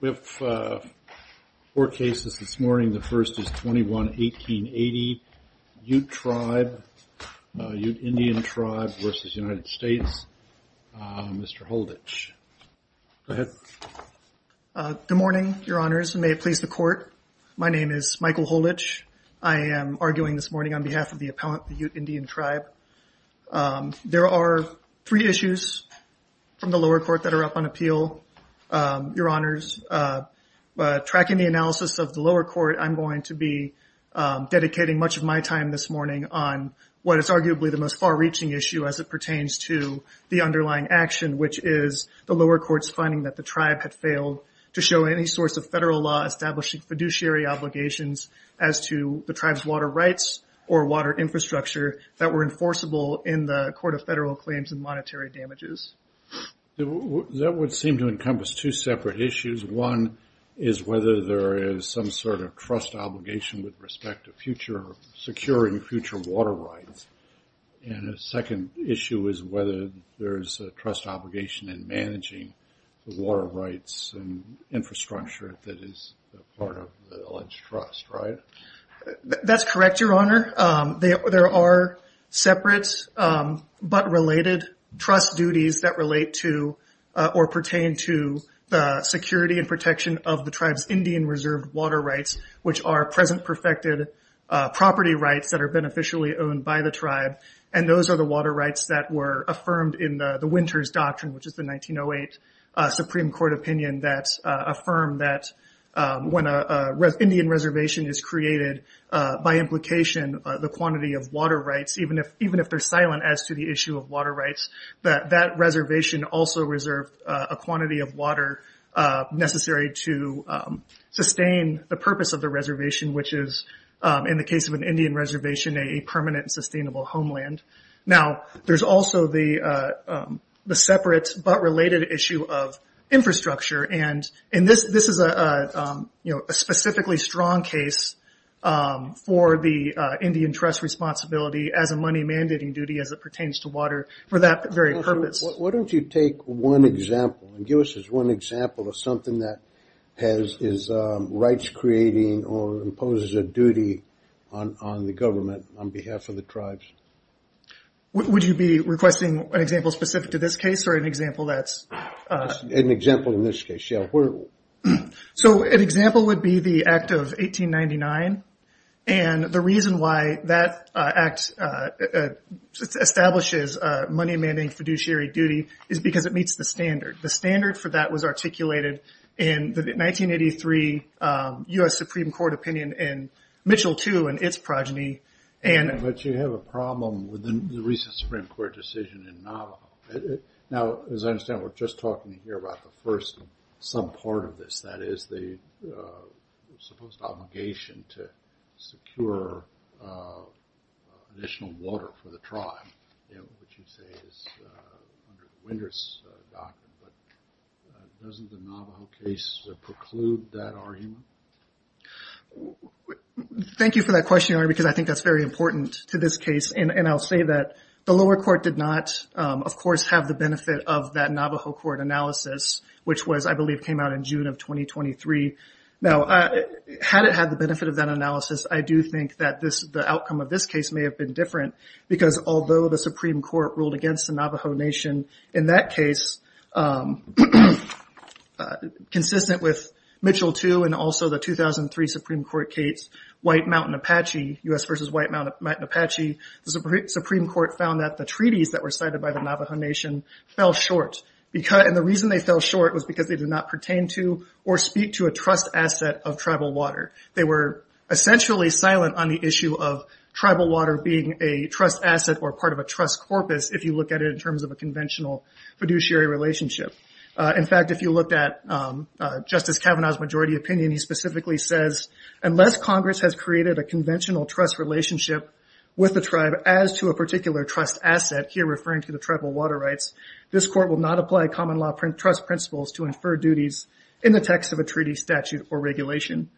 We have four cases this morning. The first is 21-1880, Ute Tribe, Ute Indian Tribe v. United States. Mr. Holditch, go ahead. Good morning, Your Honors, and may it please the Court. My name is Michael Holditch. I am arguing this morning on behalf of the appellant, the Ute Indian Tribe. There are three issues from the lower court that are up on appeal, Your Honors. Tracking the analysis of the lower court, I'm going to be dedicating much of my time this morning on what is arguably the most far-reaching issue as it pertains to the underlying action, which is the lower court's finding that the tribe had failed to show any source of federal law establishing fiduciary obligations as to the tribe's water rights or water infrastructure that were enforceable in the Court of Federal Claims and Monetary Damages. That would seem to encompass two separate issues. One is whether there is some sort of trust obligation with respect to securing future water rights. And the second issue is whether there is a trust obligation in managing the water rights and infrastructure that is part of the alleged trust, right? That's correct, Your Honor. There are separate but related trust duties that relate to or pertain to the security and protection of the tribe's Indian reserved water rights, which are present perfected property rights that are beneficially owned by the tribe. Those are the water rights that were affirmed in the Winters Doctrine, which is the 1908 Supreme Court opinion that affirmed that when an Indian reservation is created, by implication, the quantity of water rights, even if they're silent as to the issue of water rights, that that reservation also reserved a quantity of water necessary to sustain the purpose of the reservation, which is, in the case of an Indian reservation, a permanent and sustainable homeland. Now, there's also the separate but related issue of infrastructure. This is a specifically strong case for the Indian trust responsibility as a money mandating duty as it pertains to water for that very purpose. Why don't you take one example and give us one example of something that has rights creating or imposes a duty on the government on behalf of the tribes? Would you be requesting an example specific to this case or an example that's... An example in this case, yeah. An example would be the Act of 1899. The reason why that act establishes money mandating fiduciary duty is because it meets the standard. The standard for that was articulated in the 1983 U.S. Supreme Court opinion in Mitchell II and its progeny. But you have a problem with the recent Supreme Court decision in Navajo. Now, as I understand, we're just talking here about the first subpart of this. That is the supposed obligation to secure additional water for the tribe, which you say is under the Windrush doctrine. But doesn't the Navajo case preclude that argument? Thank you for that question, Your Honor, because I think that's very important to this case. And I'll say that the lower court did not, of course, have the benefit of that Navajo court analysis, which was, I believe, came out in June of 2023. Now, had it had the benefit of that analysis, I do think that the outcome of this case may have been different. Because although the Supreme Court ruled against the Navajo Nation in that case, consistent with Mitchell II and also the 2003 Supreme Court case, White Mountain Apache, U.S. versus White Mountain Apache, the Supreme Court found that the treaties that were cited by the Navajo Nation fell short. And the reason they fell short was because they did not pertain to or speak to a trust asset of tribal water. They were essentially silent on the issue of tribal water being a trust asset or part of a trust corpus, if you look at it in terms of a conventional fiduciary relationship. In fact, if you looked at Justice Kavanaugh's majority opinion, he specifically says, unless Congress has created a conventional trust relationship with the tribe as to a particular trust asset, here referring to the tribal water rights, this court will not apply common law trust principles to infer duties in the text of a treaty statute or regulation.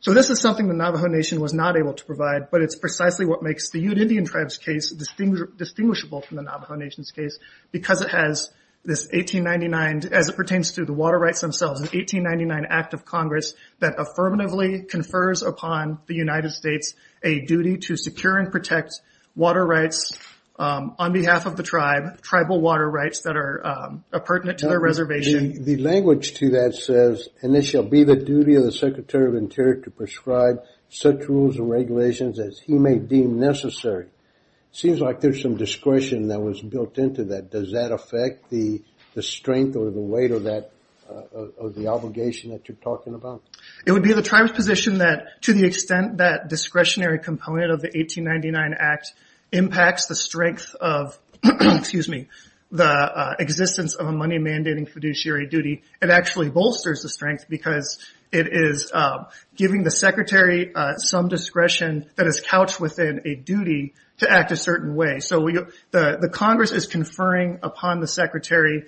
So this is something the Navajo Nation was not able to provide, but it's precisely what makes the Ute Indian Tribes case distinguishable from the Navajo Nation's case, because it has this 1899, as it pertains to the water rights themselves, 1899 Act of Congress that affirmatively confers upon the United States a duty to secure and protect water rights on behalf of the tribe, tribal water rights that are pertinent to the reservation. The language to that says, and it shall be the duty of the Secretary of Interior to prescribe such rules and regulations as he may deem necessary. It seems like there's some discretion that was built into that. Does that affect the strength or the weight of the obligation that you're talking about? It would be the tribe's position that to the extent that discretionary component of the 1899 Act impacts the strength of the existence of a money mandating fiduciary duty, it actually bolsters the strength because it is giving the Secretary some discretion that is couched within a duty to act a certain way. The Congress is conferring upon the Secretary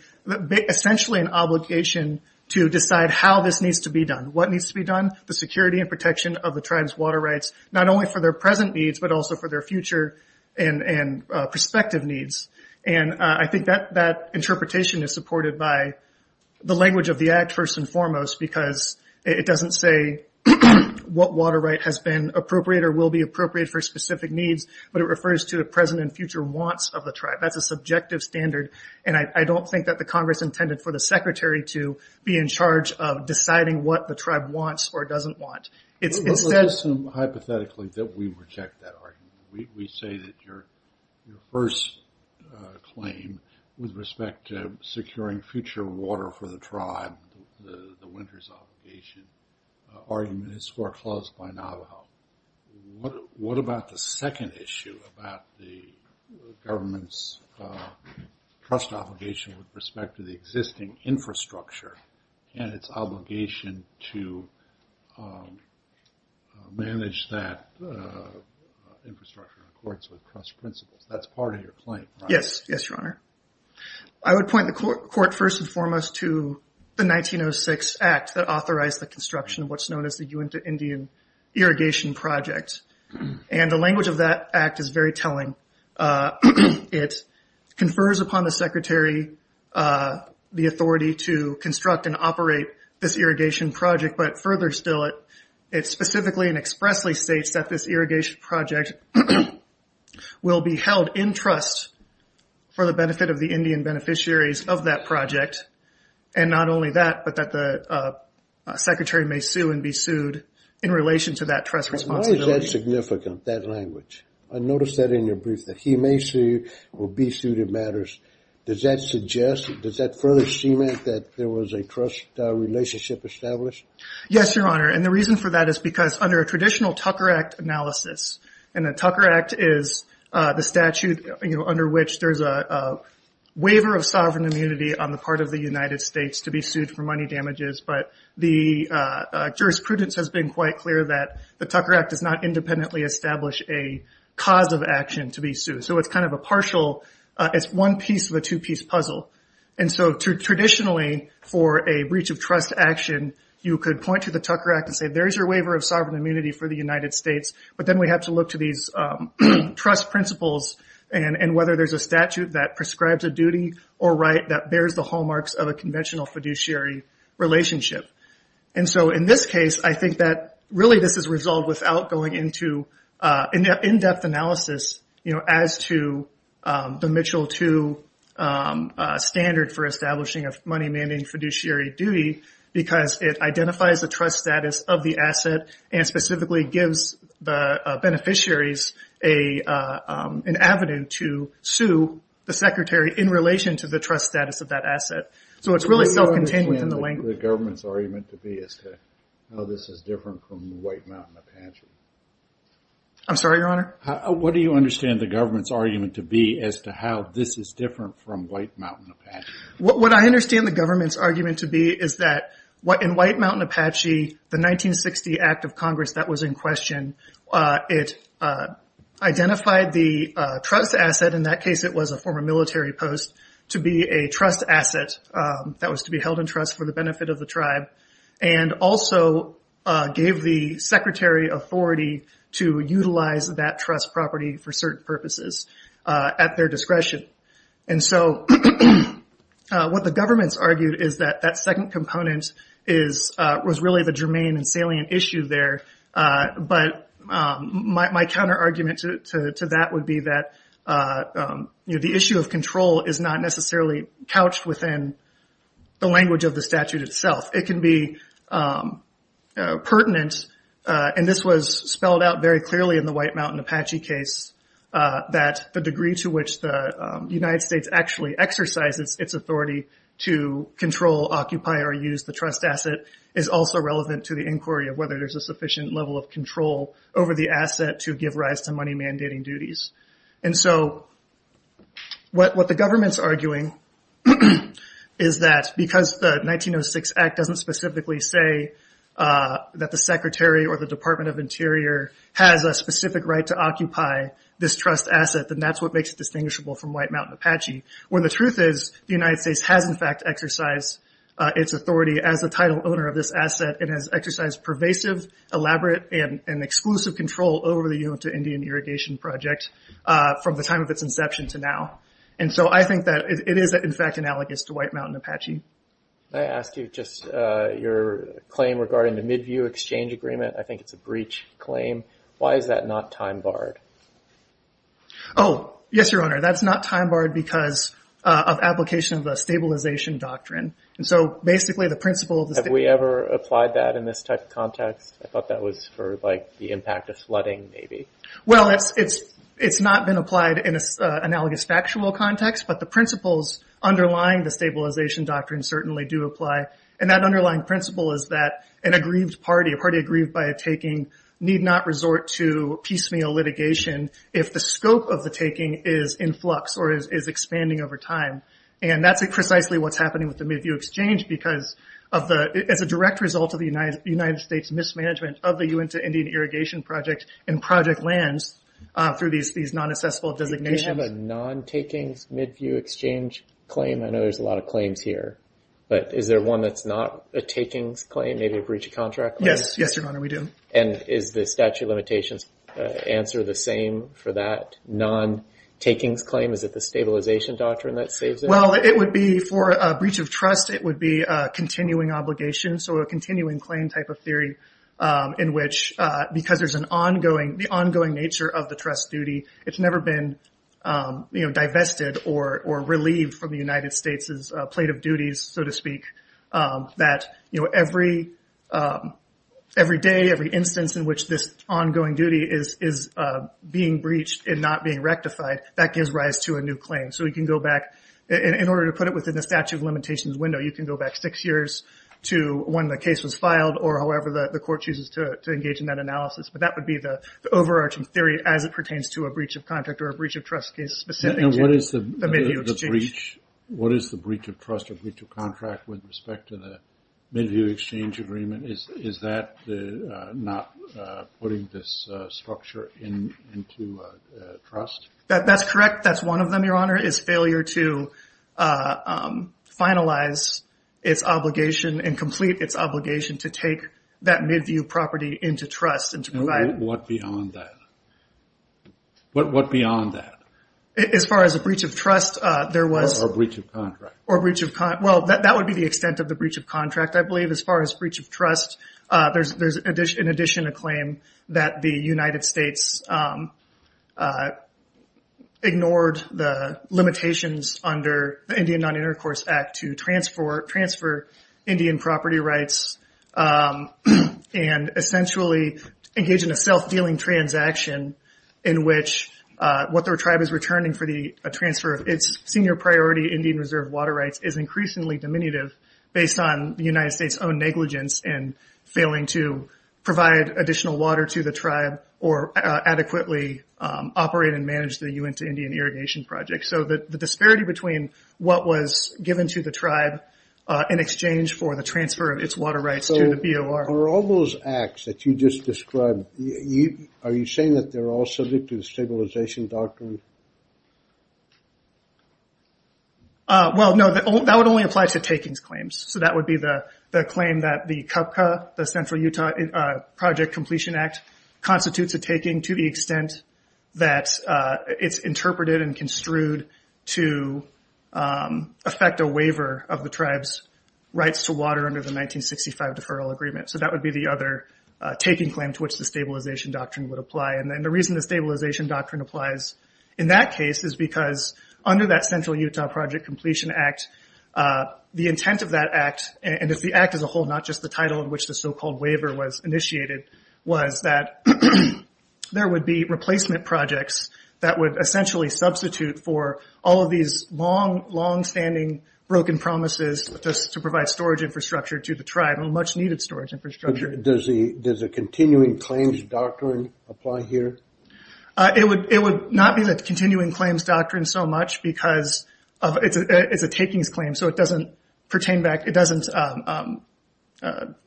essentially an obligation to decide how this needs to be done. What needs to be done? The security and protection of the tribe's water rights, not only for their present needs, but also for their future and prospective needs. I think that interpretation is supported by the language of the Act, first and foremost, because it doesn't say what water right has been appropriated or will be appropriated for specific needs, but it refers to the present and future wants of the tribe. That's a subjective standard, and I don't think that the Congress intended for the Secretary to be in charge of deciding what the tribe wants or doesn't want. Let's assume hypothetically that we reject that argument. We say that your first claim with respect to securing future water for the tribe, the winters obligation, argument is foreclosed by Navajo. What about the second issue about the government's trust obligation with respect to the existing infrastructure and its obligation to manage that infrastructure in accordance with trust principles? That's part of your claim, right? Yes. Yes, Your Honor. I would point the Court, first and foremost, to the 1906 Act that authorized the construction of what's known as the Uinta Indian Irrigation Project. The language of that Act is very telling. It confers upon the Secretary the authority to construct and operate this irrigation project, but further still, it specifically and expressly states that this irrigation project will be held in trust for the benefit of the Indian beneficiaries of that project, and not only that, but that the Secretary may sue and be sued in relation to that trust responsibility. Why is that significant, that language? I noticed that in your brief, that he may sue or be sued, it matters. Does that suggest, does that further cement that there was a trust relationship established? Yes, Your Honor, and the reason for that is because under a traditional Tucker Act analysis, and the Tucker Act is the statute under which there's a waiver of sovereign immunity on the part of the United States to be sued for money damages, but the jurisprudence has been quite clear that the Tucker Act does not independently establish a cause of action to be sued. It's one piece of a two-piece puzzle. Traditionally, for a breach of trust action, you could point to the Tucker Act and say, there's your waiver of sovereign immunity for the United States, but then we have to look to these trust principles, and whether there's a statute that prescribes a duty or right that bears the hallmarks of a conventional fiduciary relationship. In this case, I think that really this is resolved without going into an in-depth analysis, as to the Mitchell II standard for establishing a money-mandating fiduciary duty, because it identifies the trust status of the asset and specifically gives the beneficiaries an avenue to sue the secretary in relation to the trust status of that asset. So it's really self-contained within the language. What do you understand the government's argument to be as to how this is different from the White Mountain Apache? I'm sorry, Your Honor? What do you understand the government's argument to be as to how this is different from White Mountain Apache? What I understand the government's argument to be is that in White Mountain Apache, the 1960 Act of Congress that was in question, it identified the trust asset, in that case it was a former military post, to be a trust asset that was to be held in trust for the benefit of the tribe, and also gave the secretary authority to utilize that trust property for certain purposes at their discretion. And so what the government's argued is that that second component was really the germane and salient issue there, but my counter-argument to that would be that the issue of control is not necessarily couched within the language of the statute itself. It can be pertinent, and this was spelled out very clearly in the White Mountain Apache case, that the degree to which the United States actually exercises its authority to control, occupy, or use the trust asset is also relevant to the inquiry of whether there's a sufficient level of control over the asset to give rise to money-mandating duties. And so what the government's arguing is that because the 1906 Act doesn't specifically say that the secretary or the Department of Interior has a specific right to occupy this trust asset, then that's what makes it distinguishable from White Mountain Apache, when the truth is the United States has, in fact, exercised its authority as the title owner of this asset. It has exercised pervasive, elaborate, and exclusive control over the Uinta Indian Irrigation Project from the time of its inception to now. And so I think that it is, in fact, analogous to White Mountain Apache. Can I ask you just your claim regarding the Midview Exchange Agreement? I think it's a breach claim. Why is that not time-barred? Oh, yes, Your Honor. That's not time-barred because of application of the Stabilization Doctrine. Have we ever applied that in this type of context? I thought that was for the impact of flooding, maybe. Well, it's not been applied in an analogous factual context, but the principles underlying the Stabilization Doctrine certainly do apply. And that underlying principle is that an aggrieved party, a party aggrieved by a taking, need not resort to piecemeal litigation if the scope of the taking is in flux or is expanding over time. And that's precisely what's happening with the Midview Exchange because it's a direct result of the United States' mismanagement of the Uinta Indian Irrigation Project and project lands through these non-accessible designations. Does the statute have a non-takings Midview Exchange claim? I know there's a lot of claims here, but is there one that's not a takings claim, maybe a breach of contract claim? Yes, Your Honor, we do. And is the statute of limitations answer the same for that non-takings claim? Is it the Stabilization Doctrine that saves it? Well, for a breach of trust, it would be a continuing obligation, so a continuing claim type of theory in which because there's an ongoing, the ongoing nature of the trust duty, it's never been divested or relieved from the United States' plate of duties, so to speak. That every day, every instance in which this ongoing duty is being breached and not being rectified, that gives rise to a new claim. So we can go back, in order to put it within the statute of limitations window, you can go back six years to when the case was filed or however the court chooses to engage in that analysis. But that would be the overarching theory as it pertains to a breach of contract or a breach of trust case specific to the Midview Exchange. And what is the breach of trust or breach of contract with respect to the Midview Exchange agreement? Is that not putting this structure into trust? That's correct. That's one of them, Your Honor, is failure to finalize its obligation and complete its obligation to take that Midview property into trust and to provide… And what beyond that? What beyond that? As far as a breach of trust, there was… Or a breach of contract. Or a breach of… Well, that would be the extent of the breach of contract, I believe. But as far as breach of trust, there's in addition a claim that the United States ignored the limitations under the Indian Non-Intercourse Act to transfer Indian property rights and essentially engage in a self-dealing transaction in which what their tribe is returning for the transfer of its senior priority Indian reserve water rights is increasingly diminutive based on the United States' own negligence in failing to provide additional water to the tribe or adequately operate and manage the Uintah Indian Irrigation Project. So the disparity between what was given to the tribe in exchange for the transfer of its water rights to the BOR… So are all those acts that you just described, are you saying that they're all subject to the stabilization doctrine? Well, no. That would only apply to takings claims. So that would be the claim that the CUPCA, the Central Utah Project Completion Act, constitutes a taking to the extent that it's interpreted and construed to affect a waiver of the tribe's rights to water under the 1965 Deferral Agreement. So that would be the other taking claim to which the stabilization doctrine would apply. And the reason the stabilization doctrine applies in that case is because under that Central Utah Project Completion Act, the intent of that act, and if the act as a whole, not just the title in which the so-called waiver was initiated, was that there would be replacement projects that would essentially substitute for all of these long, long-standing broken promises just to provide storage infrastructure to the tribe, a much-needed storage infrastructure. Does the continuing claims doctrine apply here? It would not be the continuing claims doctrine so much because it's a takings claim, so it doesn't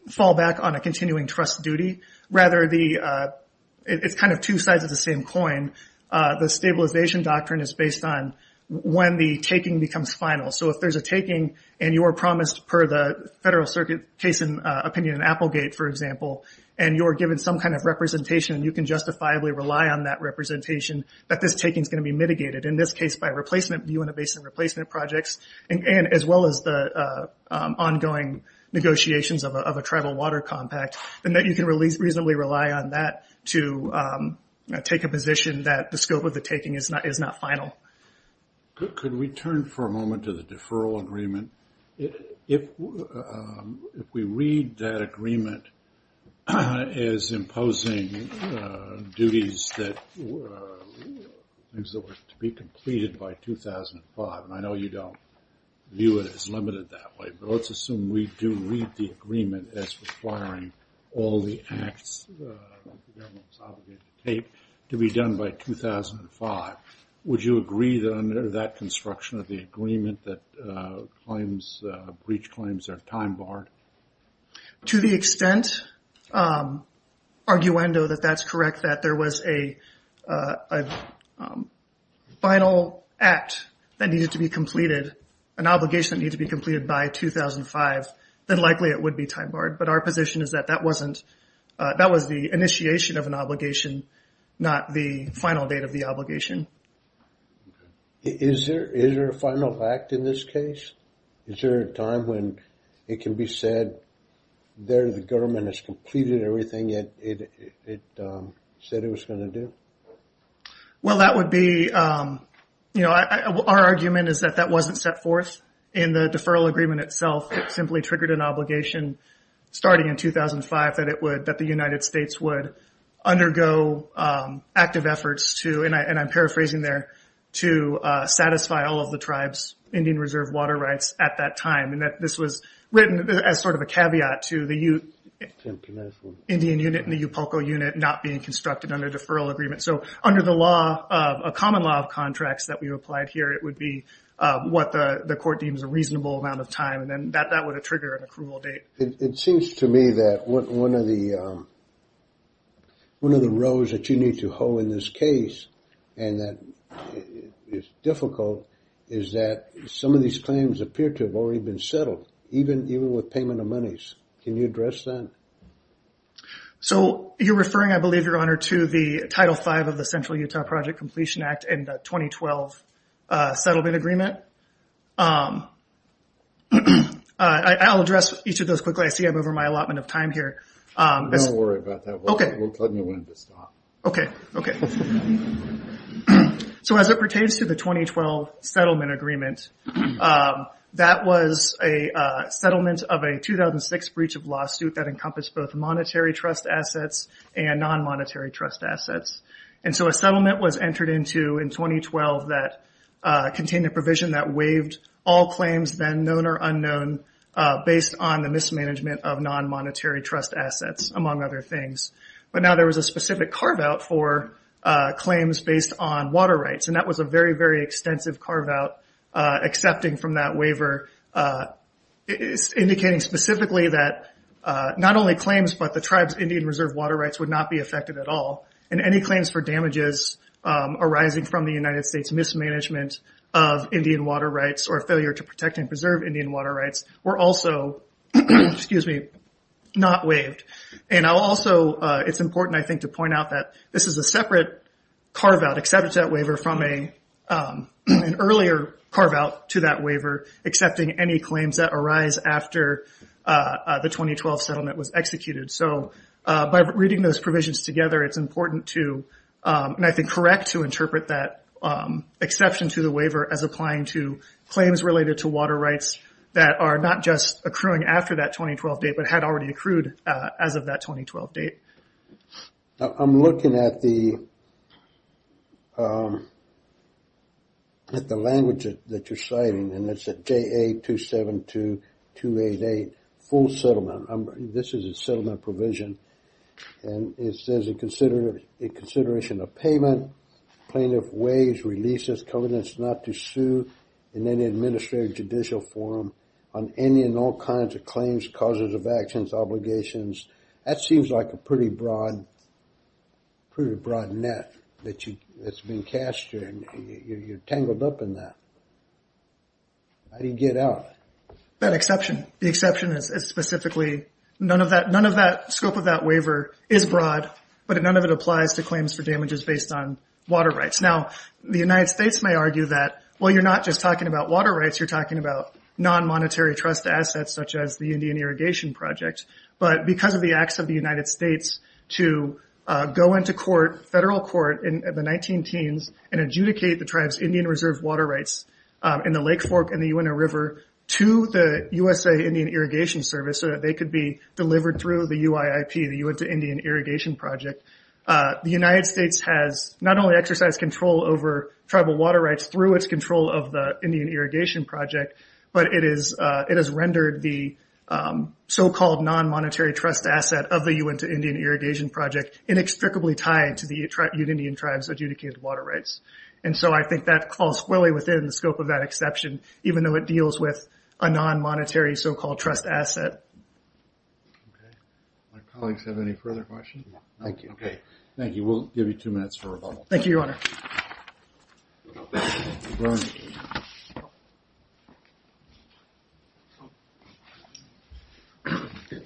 fall back on a continuing trust duty. Rather, it's kind of two sides of the same coin. The stabilization doctrine is based on when the taking becomes final. So if there's a taking and you are promised, per the Federal Circuit case opinion in Applegate, for example, and you're given some kind of representation and you can justifiably rely on that representation, that this taking is going to be mitigated, in this case by a replacement view and a basin replacement projects, as well as the ongoing negotiations of a tribal water compact, and that you can reasonably rely on that to take a position that the scope of the taking is not final. Could we turn for a moment to the deferral agreement? If we read that agreement as imposing duties that were to be completed by 2005, and I know you don't view it as limited that way, but let's assume we do read the agreement as requiring all the acts that the government is obligated to take to be done by 2005. Would you agree that under that construction of the agreement that breach claims are time barred? To the extent, arguendo, that that's correct, that there was a final act that needed to be completed, an obligation that needed to be completed by 2005, then likely it would be time barred. But our position is that that wasn't, that was the initiation of an obligation, not the final date of the obligation. Is there a final act in this case? Is there a time when it can be said there the government has completed everything it said it was going to do? Well, that would be, you know, our argument is that that wasn't set forth in the deferral agreement itself. It simply triggered an obligation starting in 2005 that it would, that the United States would undergo active efforts to, and I'm paraphrasing there, to satisfy all of the tribe's Indian Reserve water rights at that time. And that this was written as sort of a caveat to the Indian unit and the Yupoko unit not being constructed under deferral agreement. So under the law, a common law of contracts that we applied here, it would be what the court deems a reasonable amount of time. And then that would trigger an approval date. It seems to me that one of the rows that you need to hoe in this case, and that is difficult, is that some of these claims appear to have already been settled, even with payment of monies. Can you address that? So you're referring, I believe, Your Honor, to the Title V of the Central Utah Project Completion Act in the 2012 settlement agreement. I'll address each of those quickly. I see I'm over my allotment of time here. Don't worry about that. Okay. Let me wind this up. Okay. Okay. So as it pertains to the 2012 settlement agreement, that was a settlement of a 2006 breach of lawsuit that encompassed both monetary trust assets and non-monetary trust assets. And so a settlement was entered into in 2012 that contained a provision that waived all claims, then known or unknown, based on the mismanagement of non-monetary trust assets, among other things. But now there was a specific carve-out for claims based on water rights, and that was a very, very extensive carve-out, accepting from that waiver, indicating specifically that not only claims but the tribe's Indian Reserve water rights would not be affected at all. And any claims for damages arising from the United States mismanagement of Indian water rights or failure to protect and preserve Indian water rights were also not waived. And also it's important, I think, to point out that this is a separate carve-out, except it's that waiver from an earlier carve-out to that waiver, accepting any claims that arise after the 2012 settlement was executed. So by reading those provisions together, it's important to, and I think correct, to interpret that exception to the waiver as applying to claims related to water rights that are not just accruing after that 2012 date but had already accrued as of that 2012 date. I'm looking at the language that you're citing, and it's at JA272-288, full settlement. This is a settlement provision, and it says in consideration of payment, plaintiff waives, releases, covenants not to sue in any administrative judicial forum on any and all kinds of claims, causes of actions, obligations. That seems like a pretty broad net that's being cast here, and you're tangled up in that. How do you get out of it? That exception. The exception is specifically none of that scope of that waiver is broad, but none of it applies to claims for damages based on water rights. Now, the United States may argue that, well, you're not just talking about water rights, you're talking about non-monetary trust assets such as the Indian Irrigation Project. But because of the acts of the United States to go into court, federal court, in the 19-teens and adjudicate the tribe's Indian Reserve water rights in the Lake Fork and the Uintah River to the USA Indian Irrigation Service so that they could be delivered through the UIIP, the Uintah Indian Irrigation Project, the United States has not only exercised control over tribal water rights through its control of the Indian Irrigation Project, but it has rendered the so-called non-monetary trust asset of the Uintah Indian Irrigation Project inextricably tied to the Indian tribe's adjudicated water rights. And so I think that falls fully within the scope of that exception, even though it deals with a non-monetary so-called trust asset. Okay. My colleagues have any further questions? Thank you. Okay. Thank you. We'll give you two minutes for rebuttal. Thank you, Your Honor.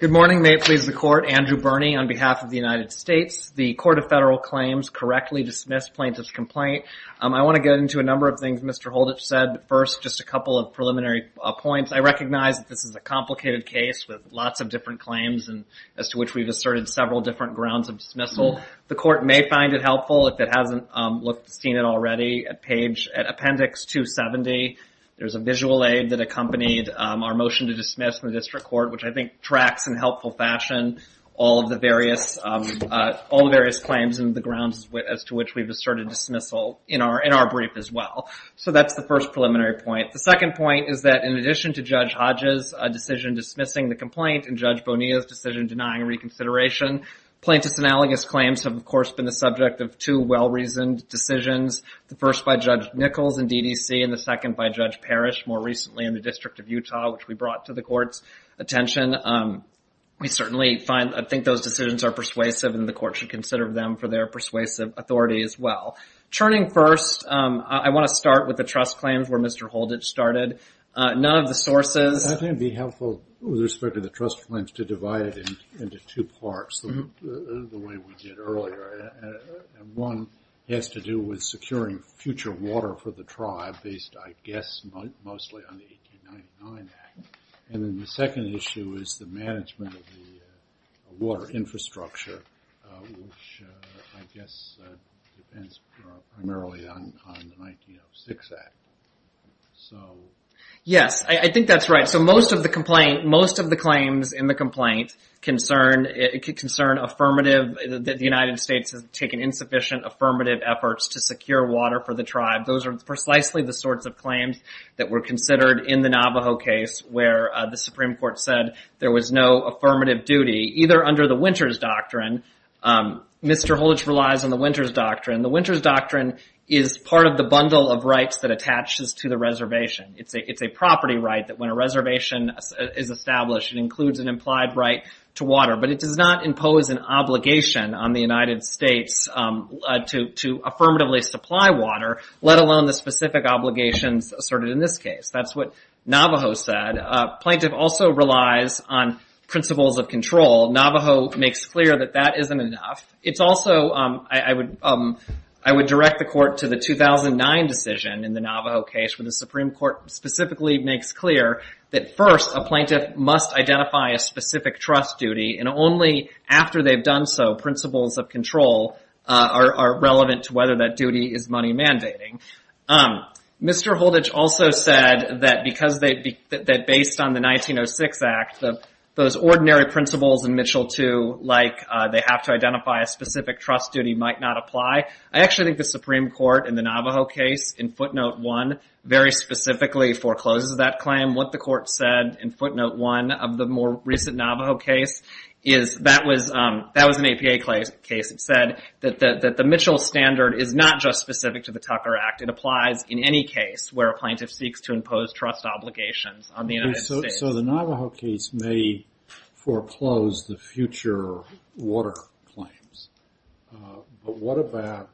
Good morning. May it please the Court. Andrew Birney on behalf of the United States. The Court of Federal Claims correctly dismissed plaintiff's complaint. I want to get into a number of things Mr. Holditch said. First, just a couple of preliminary points. I recognize that this is a complicated case with lots of different claims as to which we've asserted several different grounds of dismissal. The Court may find it helpful, if it hasn't seen it already, at appendix 270. There's a visual aid that accompanied our motion to dismiss from the District Court, which I think tracks in helpful fashion all of the various claims and the grounds as to which we've asserted dismissal in our brief as well. So that's the first preliminary point. The second point is that in addition to Judge Hodges' decision dismissing the complaint and Judge Bonilla's decision denying reconsideration, plaintiff's analogous claims have, of course, been the subject of two well-reasoned decisions, the first by Judge Nichols in DDC and the second by Judge Parrish more recently in the District of Utah, which we brought to the Court's attention. We certainly think those decisions are persuasive and the Court should consider them for their persuasive authority as well. Turning first, I want to start with the trust claims where Mr. Holditch started. None of the sources... I think it would be helpful with respect to the trust claims to divide it into two parts, the way we did earlier. One has to do with securing future water for the tribe based, I guess, mostly on the 1899 Act. And then the second issue is the management of the water infrastructure, which I guess depends primarily on the 1906 Act. So... Yes, I think that's right. It could concern affirmative... The United States has taken insufficient affirmative efforts to secure water for the tribe. Those are precisely the sorts of claims that were considered in the Navajo case where the Supreme Court said there was no affirmative duty, either under the Winters Doctrine. Mr. Holditch relies on the Winters Doctrine. The Winters Doctrine is part of the bundle of rights that attaches to the reservation. It's a property right that when a reservation is established, it includes an implied right to water. But it does not impose an obligation on the United States to affirmatively supply water, let alone the specific obligations asserted in this case. That's what Navajo said. A plaintiff also relies on principles of control. Navajo makes clear that that isn't enough. It's also... I would direct the court to the 2009 decision in the Navajo case where the Supreme Court specifically makes clear that, first, a plaintiff must identify a specific trust duty, and only after they've done so principles of control are relevant to whether that duty is money mandating. Mr. Holditch also said that based on the 1906 Act, those ordinary principles in Mitchell II, like they have to identify a specific trust duty, might not apply. I actually think the Supreme Court in the Navajo case, in footnote 1, very specifically forecloses that claim. What the court said in footnote 1 of the more recent Navajo case is that was an APA case. It said that the Mitchell standard is not just specific to the Tucker Act. It applies in any case where a plaintiff seeks to impose trust obligations on the United States. So the Navajo case may foreclose the future water claims. But what about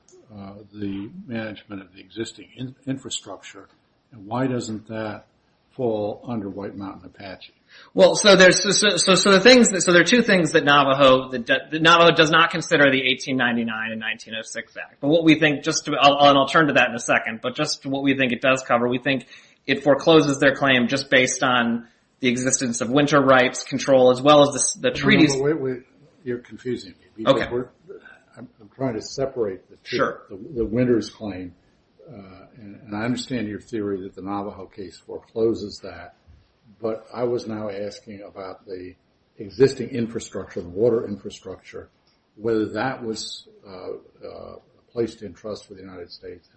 the management of the existing infrastructure, and why doesn't that fall under White Mountain Apache? Well, so there are two things that Navajo does not consider in the 1899 and 1906 Act. But what we think, and I'll turn to that in a second, but just what we think it does cover, we think it forecloses their claim just based on the existence of winter rights control as well as the treaties... Wait, wait, you're confusing me. I'm trying to separate the two. The winter's claim, and I understand your theory that the Navajo case forecloses that. But I was now asking about the existing infrastructure, the water infrastructure, whether that was placed in trust with the United States.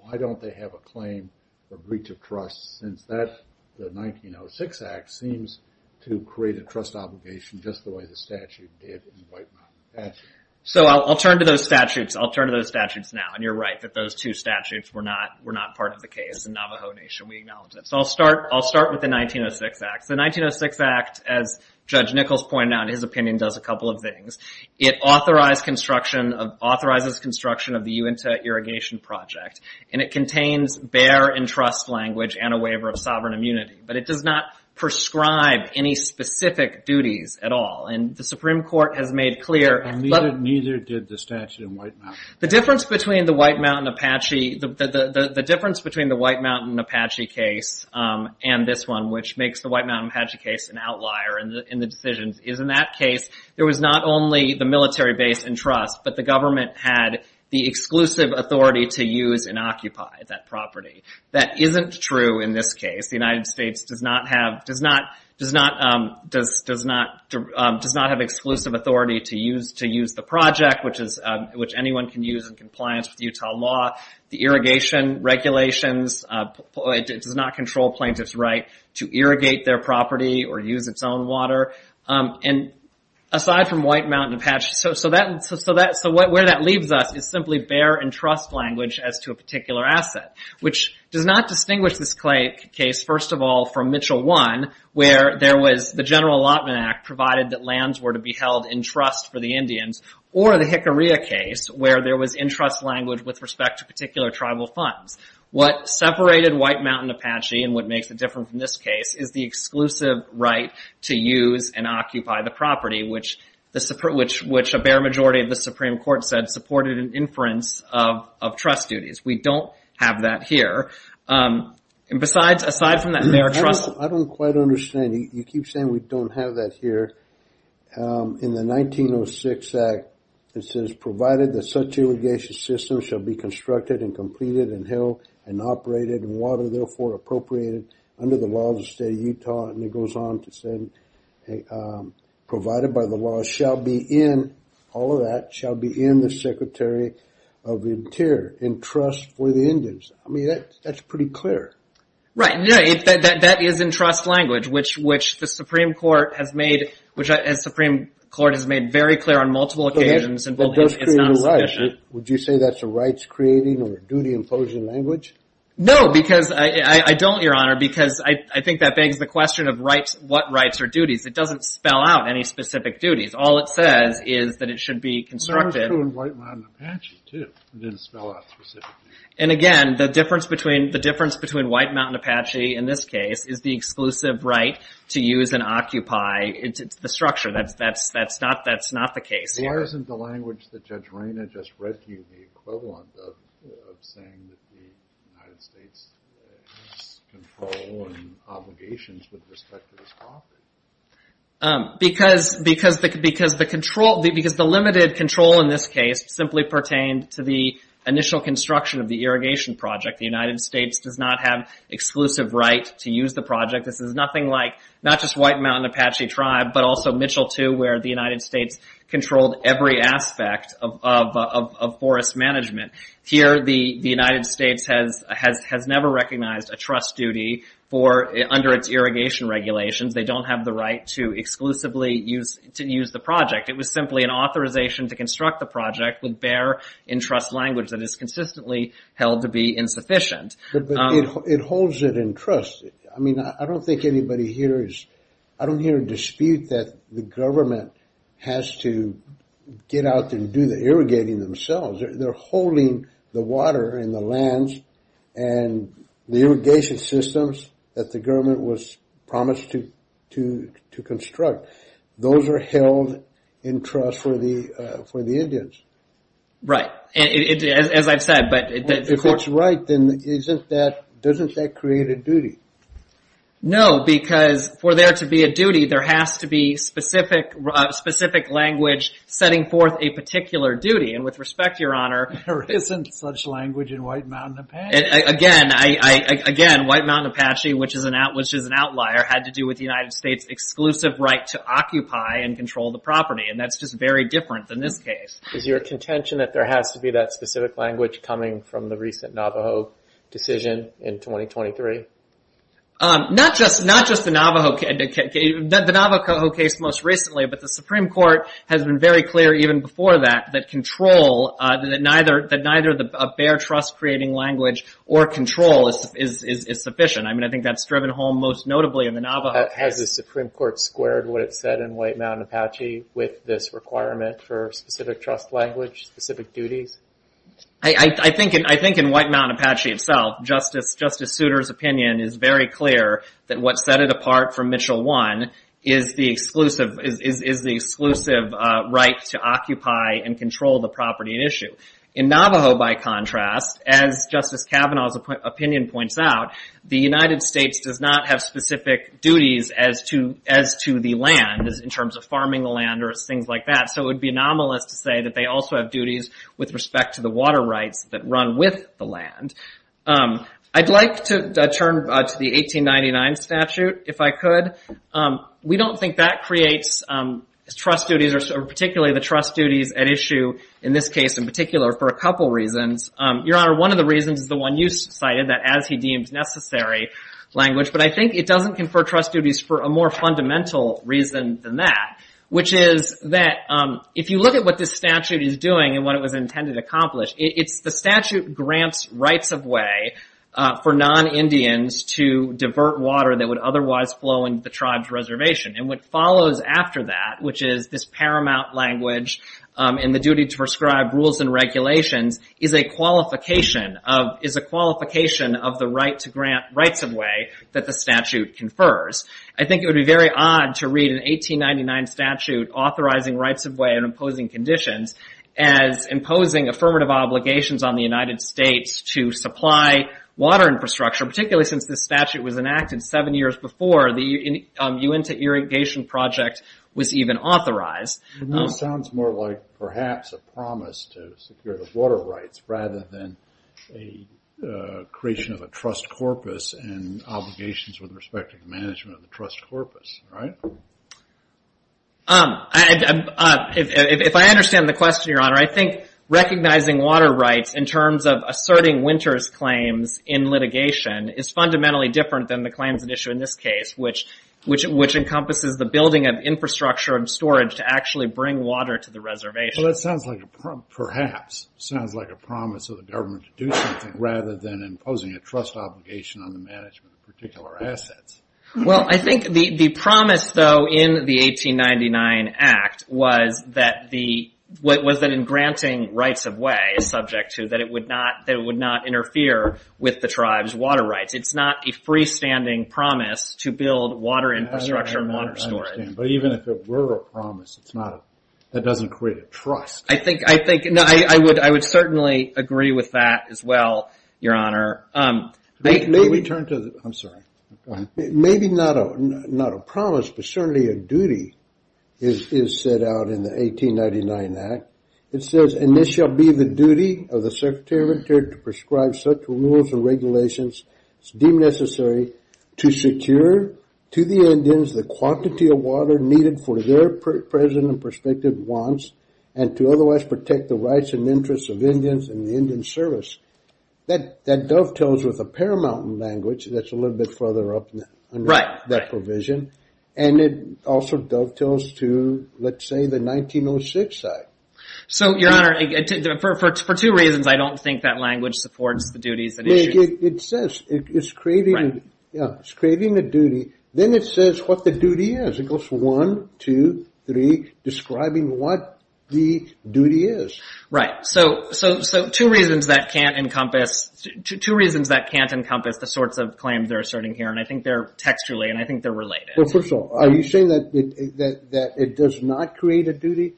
Why don't they have a claim for breach of trust since that, the 1906 Act, seems to create a trust obligation just the way the statute did in the White Mountain Apache? So I'll turn to those statutes. I'll turn to those statutes now. And you're right that those two statutes were not part of the case in Navajo Nation. We acknowledge that. So I'll start with the 1906 Act. The 1906 Act, as Judge Nichols pointed out, in his opinion, does a couple of things. It authorizes construction of the Uinta Irrigation Project, and it contains bear and trust language and a waiver of sovereign immunity. But it does not prescribe any specific duties at all. And the Supreme Court has made clear. And neither did the statute in White Mountain. The difference between the White Mountain Apache case and this one, which makes the White Mountain Apache case an outlier in the decisions, is in that case there was not only the military base and trust, but the government had the exclusive authority to use and occupy that property. That isn't true in this case. The United States does not have exclusive authority to use the project, which anyone can use in compliance with Utah law. The irrigation regulations does not control plaintiffs' right to irrigate their property or use its own water. And aside from White Mountain Apache, so where that leaves us is simply bear and trust language as to a particular asset, which does not distinguish this case, first of all, from Mitchell I, where there was the General Allotment Act provided that lands were to be held in trust for the Indians, or the Hickorya case where there was in trust language with respect to particular tribal funds. What separated White Mountain Apache and what makes it different from this case is the exclusive right to use and occupy the property, which a bear majority of the Supreme Court said supported an inference of trust duties. We don't have that here. And besides, aside from that bear trust. I don't quite understand. You keep saying we don't have that here. In the 1906 Act, it says, provided that such irrigation systems shall be constructed and completed and held and operated and water therefore appropriated under the laws of the state of Utah, and it goes on to say, provided by the law, shall be in, all of that, shall be in the Secretary of Interior, in trust for the Indians. I mean, that's pretty clear. Right. Yeah, that is in trust language, which the Supreme Court has made, which the Supreme Court has made very clear on multiple occasions, and it's not sufficient. Would you say that's a rights-creating or duty-imposing language? No, because I don't, Your Honor, because I think that begs the question of what rights or duties. It doesn't spell out any specific duties. All it says is that it should be constructed. It's also in White Mountain Apache, too. It didn't spell out specifically. And, again, the difference between White Mountain Apache, in this case, is the exclusive right to use and occupy the structure. That's not the case here. Why isn't the language that Judge Raina just read to you the equivalent of saying that the United States has control and obligations with respect to this property? Because the limited control, in this case, simply pertained to the initial construction of the irrigation project. The United States does not have exclusive right to use the project. This is nothing like not just White Mountain Apache Tribe, but also Mitchell, too, where the United States controlled every aspect of forest management. Here, the United States has never recognized a trust duty under its irrigation regulations. They don't have the right to exclusively use the project. It was simply an authorization to construct the project with bare and trust language that is consistently held to be insufficient. It holds it in trust. I mean, I don't think anybody here is – I don't hear a dispute that the government has to get out and do the irrigating themselves. They're holding the water and the lands and the irrigation systems that the government was promised to construct. Those are held in trust for the Indians. Right, as I've said. If that's right, then doesn't that create a duty? No, because for there to be a duty, there has to be specific language setting forth a particular duty. And with respect, Your Honor— There isn't such language in White Mountain Apache. Again, White Mountain Apache, which is an outlier, had to do with the United States' exclusive right to occupy and control the property, and that's just very different than this case. Is your contention that there has to be that specific language coming from the recent Navajo decision in 2023? Not just the Navajo case most recently, but the Supreme Court has been very clear even before that, that neither a bare trust-creating language or control is sufficient. I mean, I think that's driven home most notably in the Navajo case. Has the Supreme Court squared what it said in White Mountain Apache with this requirement for specific trust language, specific duties? I think in White Mountain Apache itself, Justice Souter's opinion is very clear that what set it apart from Mitchell 1 is the exclusive right to occupy and control the property at issue. In Navajo, by contrast, as Justice Kavanaugh's opinion points out, the United States does not have specific duties as to the land, in terms of farming the land or things like that, so it would be anomalous to say that they also have duties with respect to the water rights that run with the land. I'd like to turn to the 1899 statute, if I could. We don't think that creates trust duties, or particularly the trust duties at issue in this case in particular, for a couple reasons. Your Honor, one of the reasons is the one you cited, that as he deemed necessary language, but I think it doesn't confer trust duties for a more fundamental reason than that, which is that if you look at what this statute is doing and what it was intended to accomplish, it's the statute grants rights of way for non-Indians to divert water that would otherwise flow into the tribe's reservation. And what follows after that, which is this paramount language and the duty to prescribe rules and regulations, is a qualification of the rights of way that the statute confers. I think it would be very odd to read an 1899 statute authorizing rights of way and imposing conditions as imposing affirmative obligations on the United States to supply water infrastructure, particularly since this statute was enacted seven years before the Uinta Irrigation Project was even authorized. It now sounds more like perhaps a promise to secure the water rights rather than a creation of a trust corpus and obligations with respect to the management of the trust corpus, right? If I understand the question, Your Honor, I think recognizing water rights in terms of asserting Winters' claims in litigation is fundamentally different than the claims at issue in this case, which encompasses the building of infrastructure and storage to actually bring water to the reservation. Well, that sounds like a promise, perhaps. It sounds like a promise of the government to do something rather than imposing a trust obligation on the management of particular assets. Well, I think the promise, though, in the 1899 Act was that in granting rights of way is subject to that it would not interfere with the tribe's water rights. It's not a freestanding promise to build water infrastructure and water storage. I understand, but even if it were a promise, that doesn't create a trust. I would certainly agree with that as well, Your Honor. May we turn to the... I'm sorry. Go ahead. Maybe not a promise, but certainly a duty is set out in the 1899 Act. It says, and this shall be the duty of the Secretary of Interior to prescribe such rules and regulations deemed necessary to secure to the Indians the quantity of water needed for their present and prospective wants and to otherwise protect the rights and interests of Indians and the Indian service. That dovetails with the Paramount language that's a little bit further up under that provision. And it also dovetails to, let's say, the 1906 Act. So, Your Honor, for two reasons, I don't think that language supports the duties and issues. It says it's creating a duty. Then it says what the duty is. It goes from one, two, three, describing what the duty is. Right, so two reasons that can't encompass the sorts of claims they're asserting here. And I think they're textually, and I think they're related. Well, first of all, are you saying that it does not create a duty?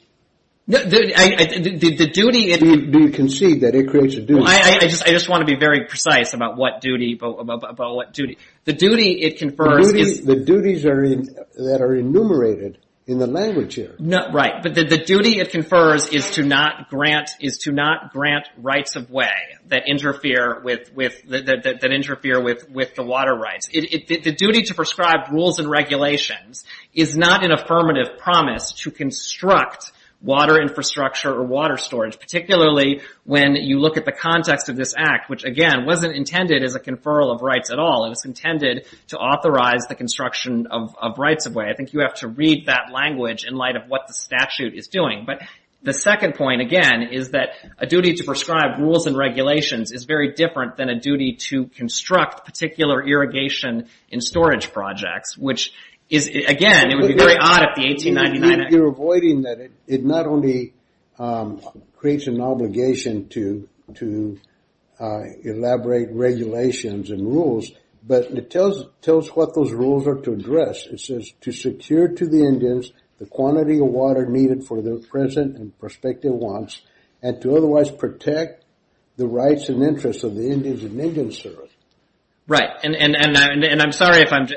The duty... Do you concede that it creates a duty? I just want to be very precise about what duty. The duty it confers... The duties that are enumerated in the language here. Right, but the duty it confers is to not grant rights of way that interfere with the water rights. The duty to prescribe rules and regulations is not an affirmative promise to construct water infrastructure or water storage, particularly when you look at the context of this act, which, again, wasn't intended as a conferral of rights at all. It was intended to authorize the construction of rights of way. I think you have to read that language in light of what the statute is doing. But the second point, again, is that a duty to prescribe rules and regulations is very different than a duty to construct particular irrigation and storage projects, which is, again, it would be very odd if the 1899 Act... You're avoiding that it not only creates an obligation to elaborate regulations and rules, but it tells what those rules are to address. It says, to secure to the Indians the quantity of water needed for their present and prospective wants and to otherwise protect the rights and interests of the Indians and Indian servants. Right, and I'm sorry if I'm...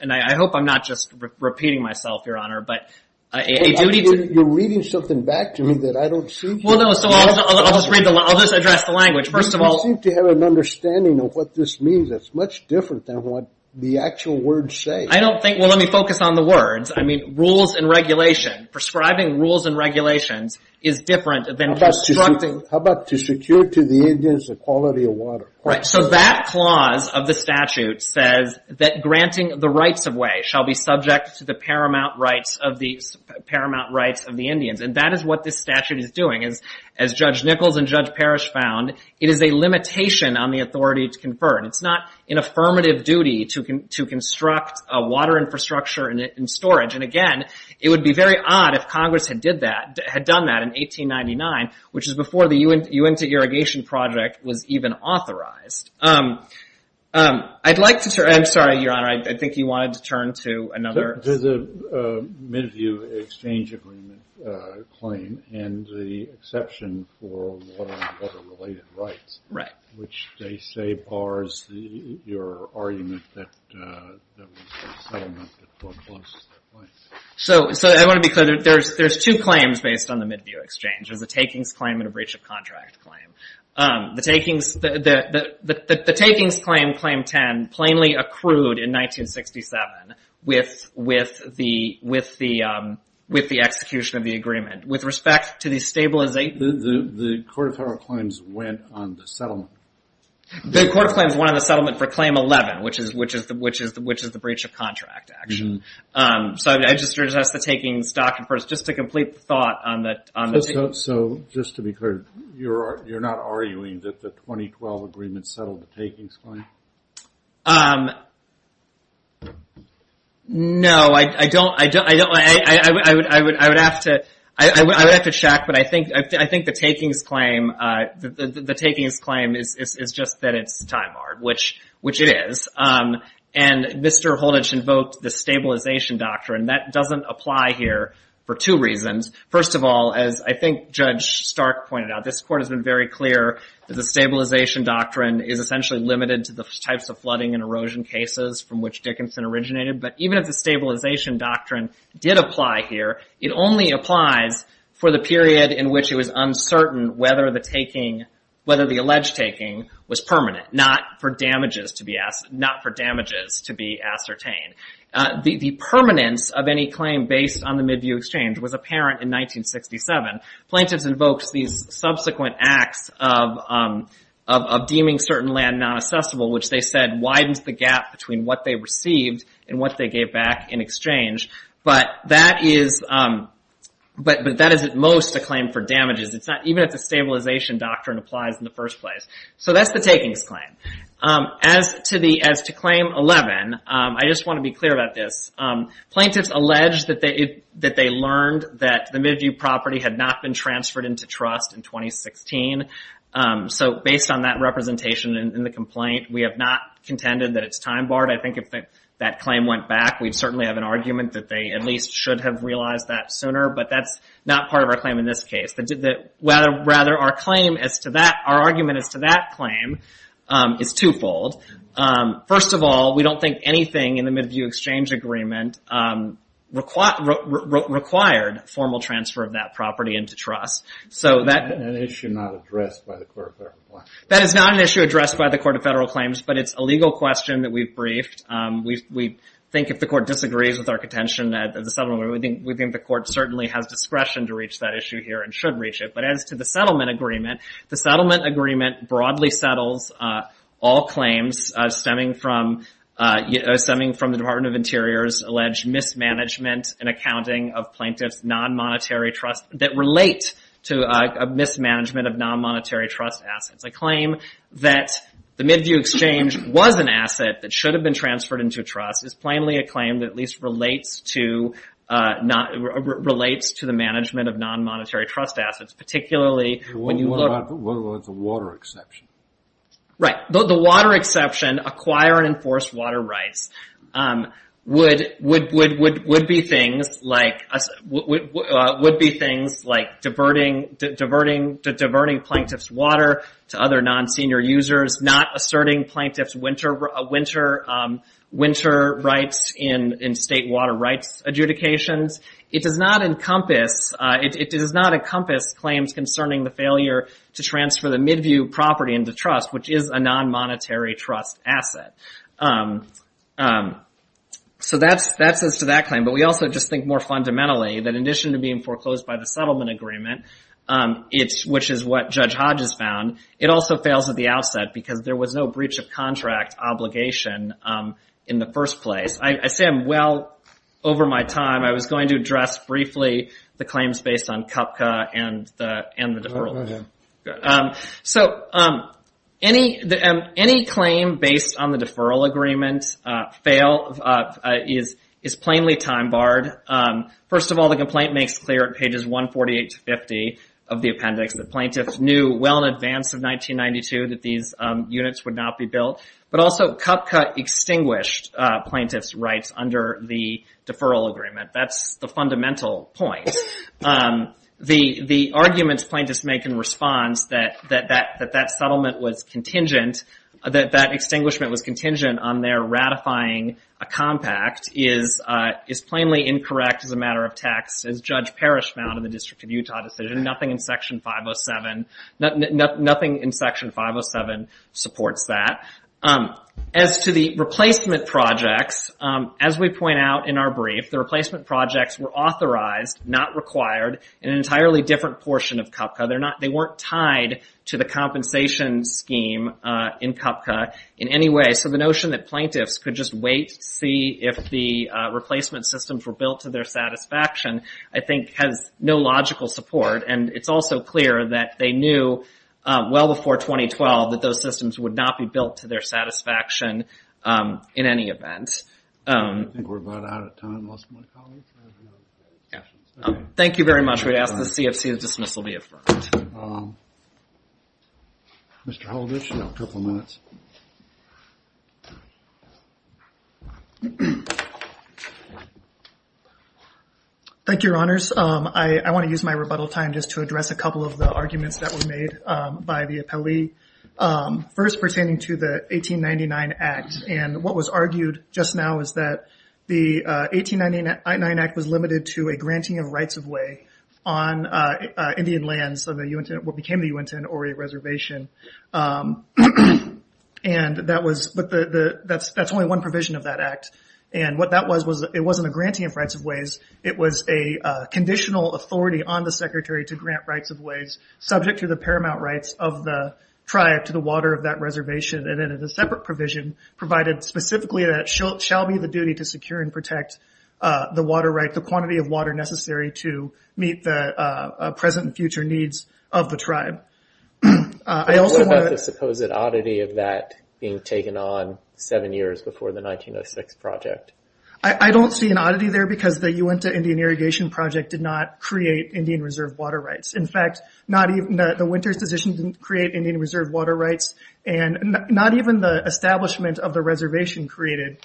And I hope I'm not just repeating myself, Your Honor, but... You're reading something back to me that I don't see. Well, no, so I'll just address the language. First of all... You seem to have an understanding of what this means. It's much different than what the actual words say. I don't think... Well, let me focus on the words. I mean, rules and regulation, prescribing rules and regulations is different than constructing... How about to secure to the Indians the quality of water? Right, so that clause of the statute says that granting the rights of way shall be subject to the paramount rights of the Indians, and that is what this statute is doing. As Judge Nichols and Judge Parrish found, it is a limitation on the authority to confer, and it's not an affirmative duty to construct a water infrastructure and storage, and, again, it would be very odd if Congress had done that in 1899, which is before the Uinta Irrigation Project was even authorized. I'd like to turn... I'm sorry, Your Honor. I think you wanted to turn to another... There's a mid-view exchange agreement claim and the exception for water and other related rights... Right. ...which they say bars your argument that there was a settlement that forecloses that claim. So I want to be clear. There's two claims based on the mid-view exchange. There's a takings claim and a breach-of-contract claim. The takings claim, Claim 10, plainly accrued in 1967 with the execution of the agreement. With respect to the... The Court of Federal Claims went on the settlement. The Court of Claims went on the settlement for Claim 11, which is the breach-of-contract action. So I just resist the takings document just to complete the thought on the... So just to be clear, you're not arguing that the 2012 agreement settled the takings claim? No. I don't... I would have to check, but I think the takings claim... The takings claim is just that it's time-hard, which it is. And Mr. Holditch invoked the Stabilization Doctrine. That doesn't apply here for two reasons. First of all, as I think Judge Stark pointed out, this Court has been very clear that the Stabilization Doctrine is essentially limited to the types of flooding and erosion cases from which Dickinson originated. But even if the Stabilization Doctrine did apply here, it only applies for the period in which it was uncertain whether the alleged taking was permanent, not for damages to be ascertained. The permanence of any claim based on the Midview Exchange was apparent in 1967. Plaintiffs invoked these subsequent acts of deeming certain land non-assessable, which they said widened the gap between what they received and what they gave back in exchange. But that is at most a claim for damages. Even if the Stabilization Doctrine applies in the first place. So that's the takings claim. As to Claim 11, I just want to be clear about this. Plaintiffs allege that they learned that the Midview property had not been transferred into trust in 2016. So based on that representation in the complaint, we have not contended that it's time-barred. I think if that claim went back, we'd certainly have an argument that they at least should have realized that sooner. But that's not part of our claim in this case. Rather, our argument as to that claim is twofold. First of all, we don't think anything in the Midview Exchange Agreement required formal transfer of that property into trust. That is not an issue addressed by the Court of Federal Claims. That is not an issue addressed by the Court of Federal Claims, but it's a legal question that we've briefed. We think if the Court disagrees with our contention at the settlement, we think the Court certainly has discretion to reach that issue here and should reach it. But as to the settlement agreement, the settlement agreement broadly settles all claims stemming from the Department of Interior's alleged mismanagement and accounting of plaintiffs' non-monetary trust that relate to a mismanagement of non-monetary trust assets. A claim that the Midview Exchange was an asset that should have been transferred into trust is plainly a claim that at least relates to the management of non-monetary trust assets, particularly when you look... The water exception. Right. The water exception, acquire and enforce water rights, would be things like diverting plaintiffs' water to other non-senior users, not asserting plaintiffs' winter rights in state water rights adjudications. It does not encompass claims concerning the failure to transfer the Midview property into trust, which is a non-monetary trust asset. So that's as to that claim, but we also just think more fundamentally that in addition to being foreclosed by the settlement agreement, which is what Judge Hodge has found, it also fails at the outset because there was no breach of contract obligation in the first place. I say I'm well over my time. I was going to address briefly the claims based on Kupka and the deferral. So any claim based on the deferral agreement is plainly time-barred. First of all, the complaint makes clear at pages 148 to 50 of the appendix that plaintiffs knew well in advance of 1992 that these units would not be built, but also Kupka extinguished plaintiffs' rights under the deferral agreement. That's the fundamental point. The arguments plaintiffs make in response that that extinguishment was contingent on their ratifying a compact is plainly incorrect as a matter of text. As Judge Parrish found in the District of Utah decision, nothing in Section 507 supports that. As to the replacement projects, as we point out in our brief, the replacement projects were authorized, not required, in an entirely different portion of Kupka. They weren't tied to the compensation scheme in Kupka in any way, so the notion that plaintiffs could just wait to see if the replacement systems were built to their satisfaction, I think, has no logical support, and it's also clear that they knew well before 2012 that those systems would not be built to their satisfaction in any event. I think we're about out of time, most of my colleagues. Thank you very much. We'd ask the CFC that dismissal be affirmed. Mr. Holditch, you have a couple of minutes. Thank you, Your Honors. I want to use my rebuttal time just to address a couple of the arguments that were made by the appellee, first pertaining to the 1899 Act, and what was argued just now is that the 1899 Act was limited to a granting of rights of way on Indian lands, what became the Uintah and Hauri Reservation, but that's only one provision of that Act, and it wasn't a granting of rights of ways. It was a conditional authority on the Secretary to grant rights of ways, subject to the paramount rights of the tribe to the water of that reservation, and then a separate provision provided specifically that it shall be the duty to secure and protect the water right, the quantity of water necessary to meet the present and future needs of the tribe. What about the supposed oddity of that being taken on seven years before the 1906 project? I don't see an oddity there because the Uintah Indian Irrigation Project did not create Indian reserve water rights. In fact, the Winters decision didn't create Indian reserve water rights, and not even the establishment of the reservation created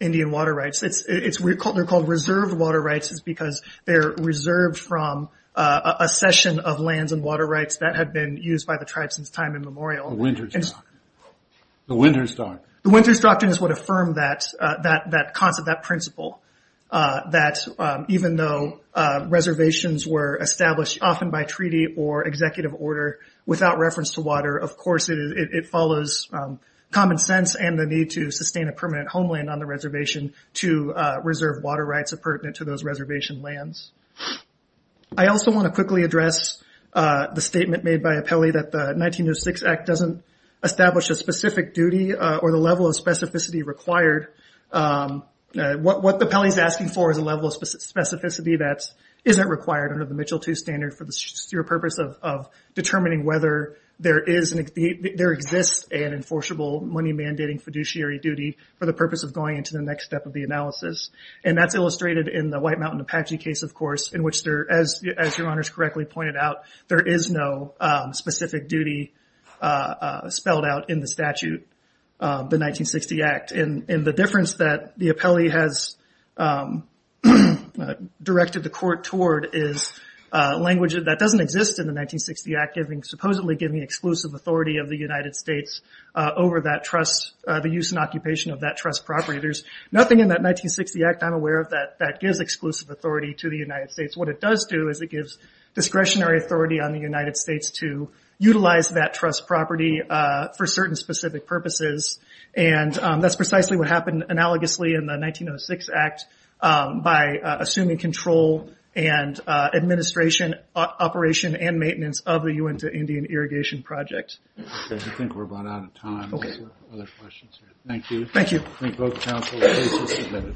Indian water rights. They're called reserved water rights because they're reserved from a session of lands and water rights that had been used by the tribe since time immemorial. The Winters Doctrine. The Winters Doctrine. The Winters Doctrine is what affirmed that concept, that principle, that even though reservations were established often by treaty or executive order without reference to water, of course it follows common sense and the need to sustain a permanent homeland on the reservation to reserve water rights appurtenant to those reservation lands. I also want to quickly address the statement made by Apelli that the 1906 Act doesn't establish a specific duty or the level of specificity required What Apelli is asking for is a level of specificity that isn't required under the Mitchell II standard for the sheer purpose of determining whether there exists an enforceable money-mandating fiduciary duty for the purpose of going into the next step of the analysis. That's illustrated in the White Mountain Apache case, of course, in which, as your honors correctly pointed out, there is no specific duty spelled out in the statute, the 1960 Act. The difference that the Apelli has directed the court toward is language that doesn't exist in the 1960 Act supposedly giving exclusive authority of the United States over the use and occupation of that trust property. There's nothing in that 1960 Act, I'm aware of, that gives exclusive authority to the United States. What it does do is it gives discretionary authority on the United States to utilize that trust property for certain specific purposes. That's precisely what happened analogously in the 1906 Act by assuming control and administration, operation, and maintenance of the Uinta Indian Irrigation Project. I think we're about out of time. Are there other questions? Thank you. Thank you. I think both counsel's cases submitted.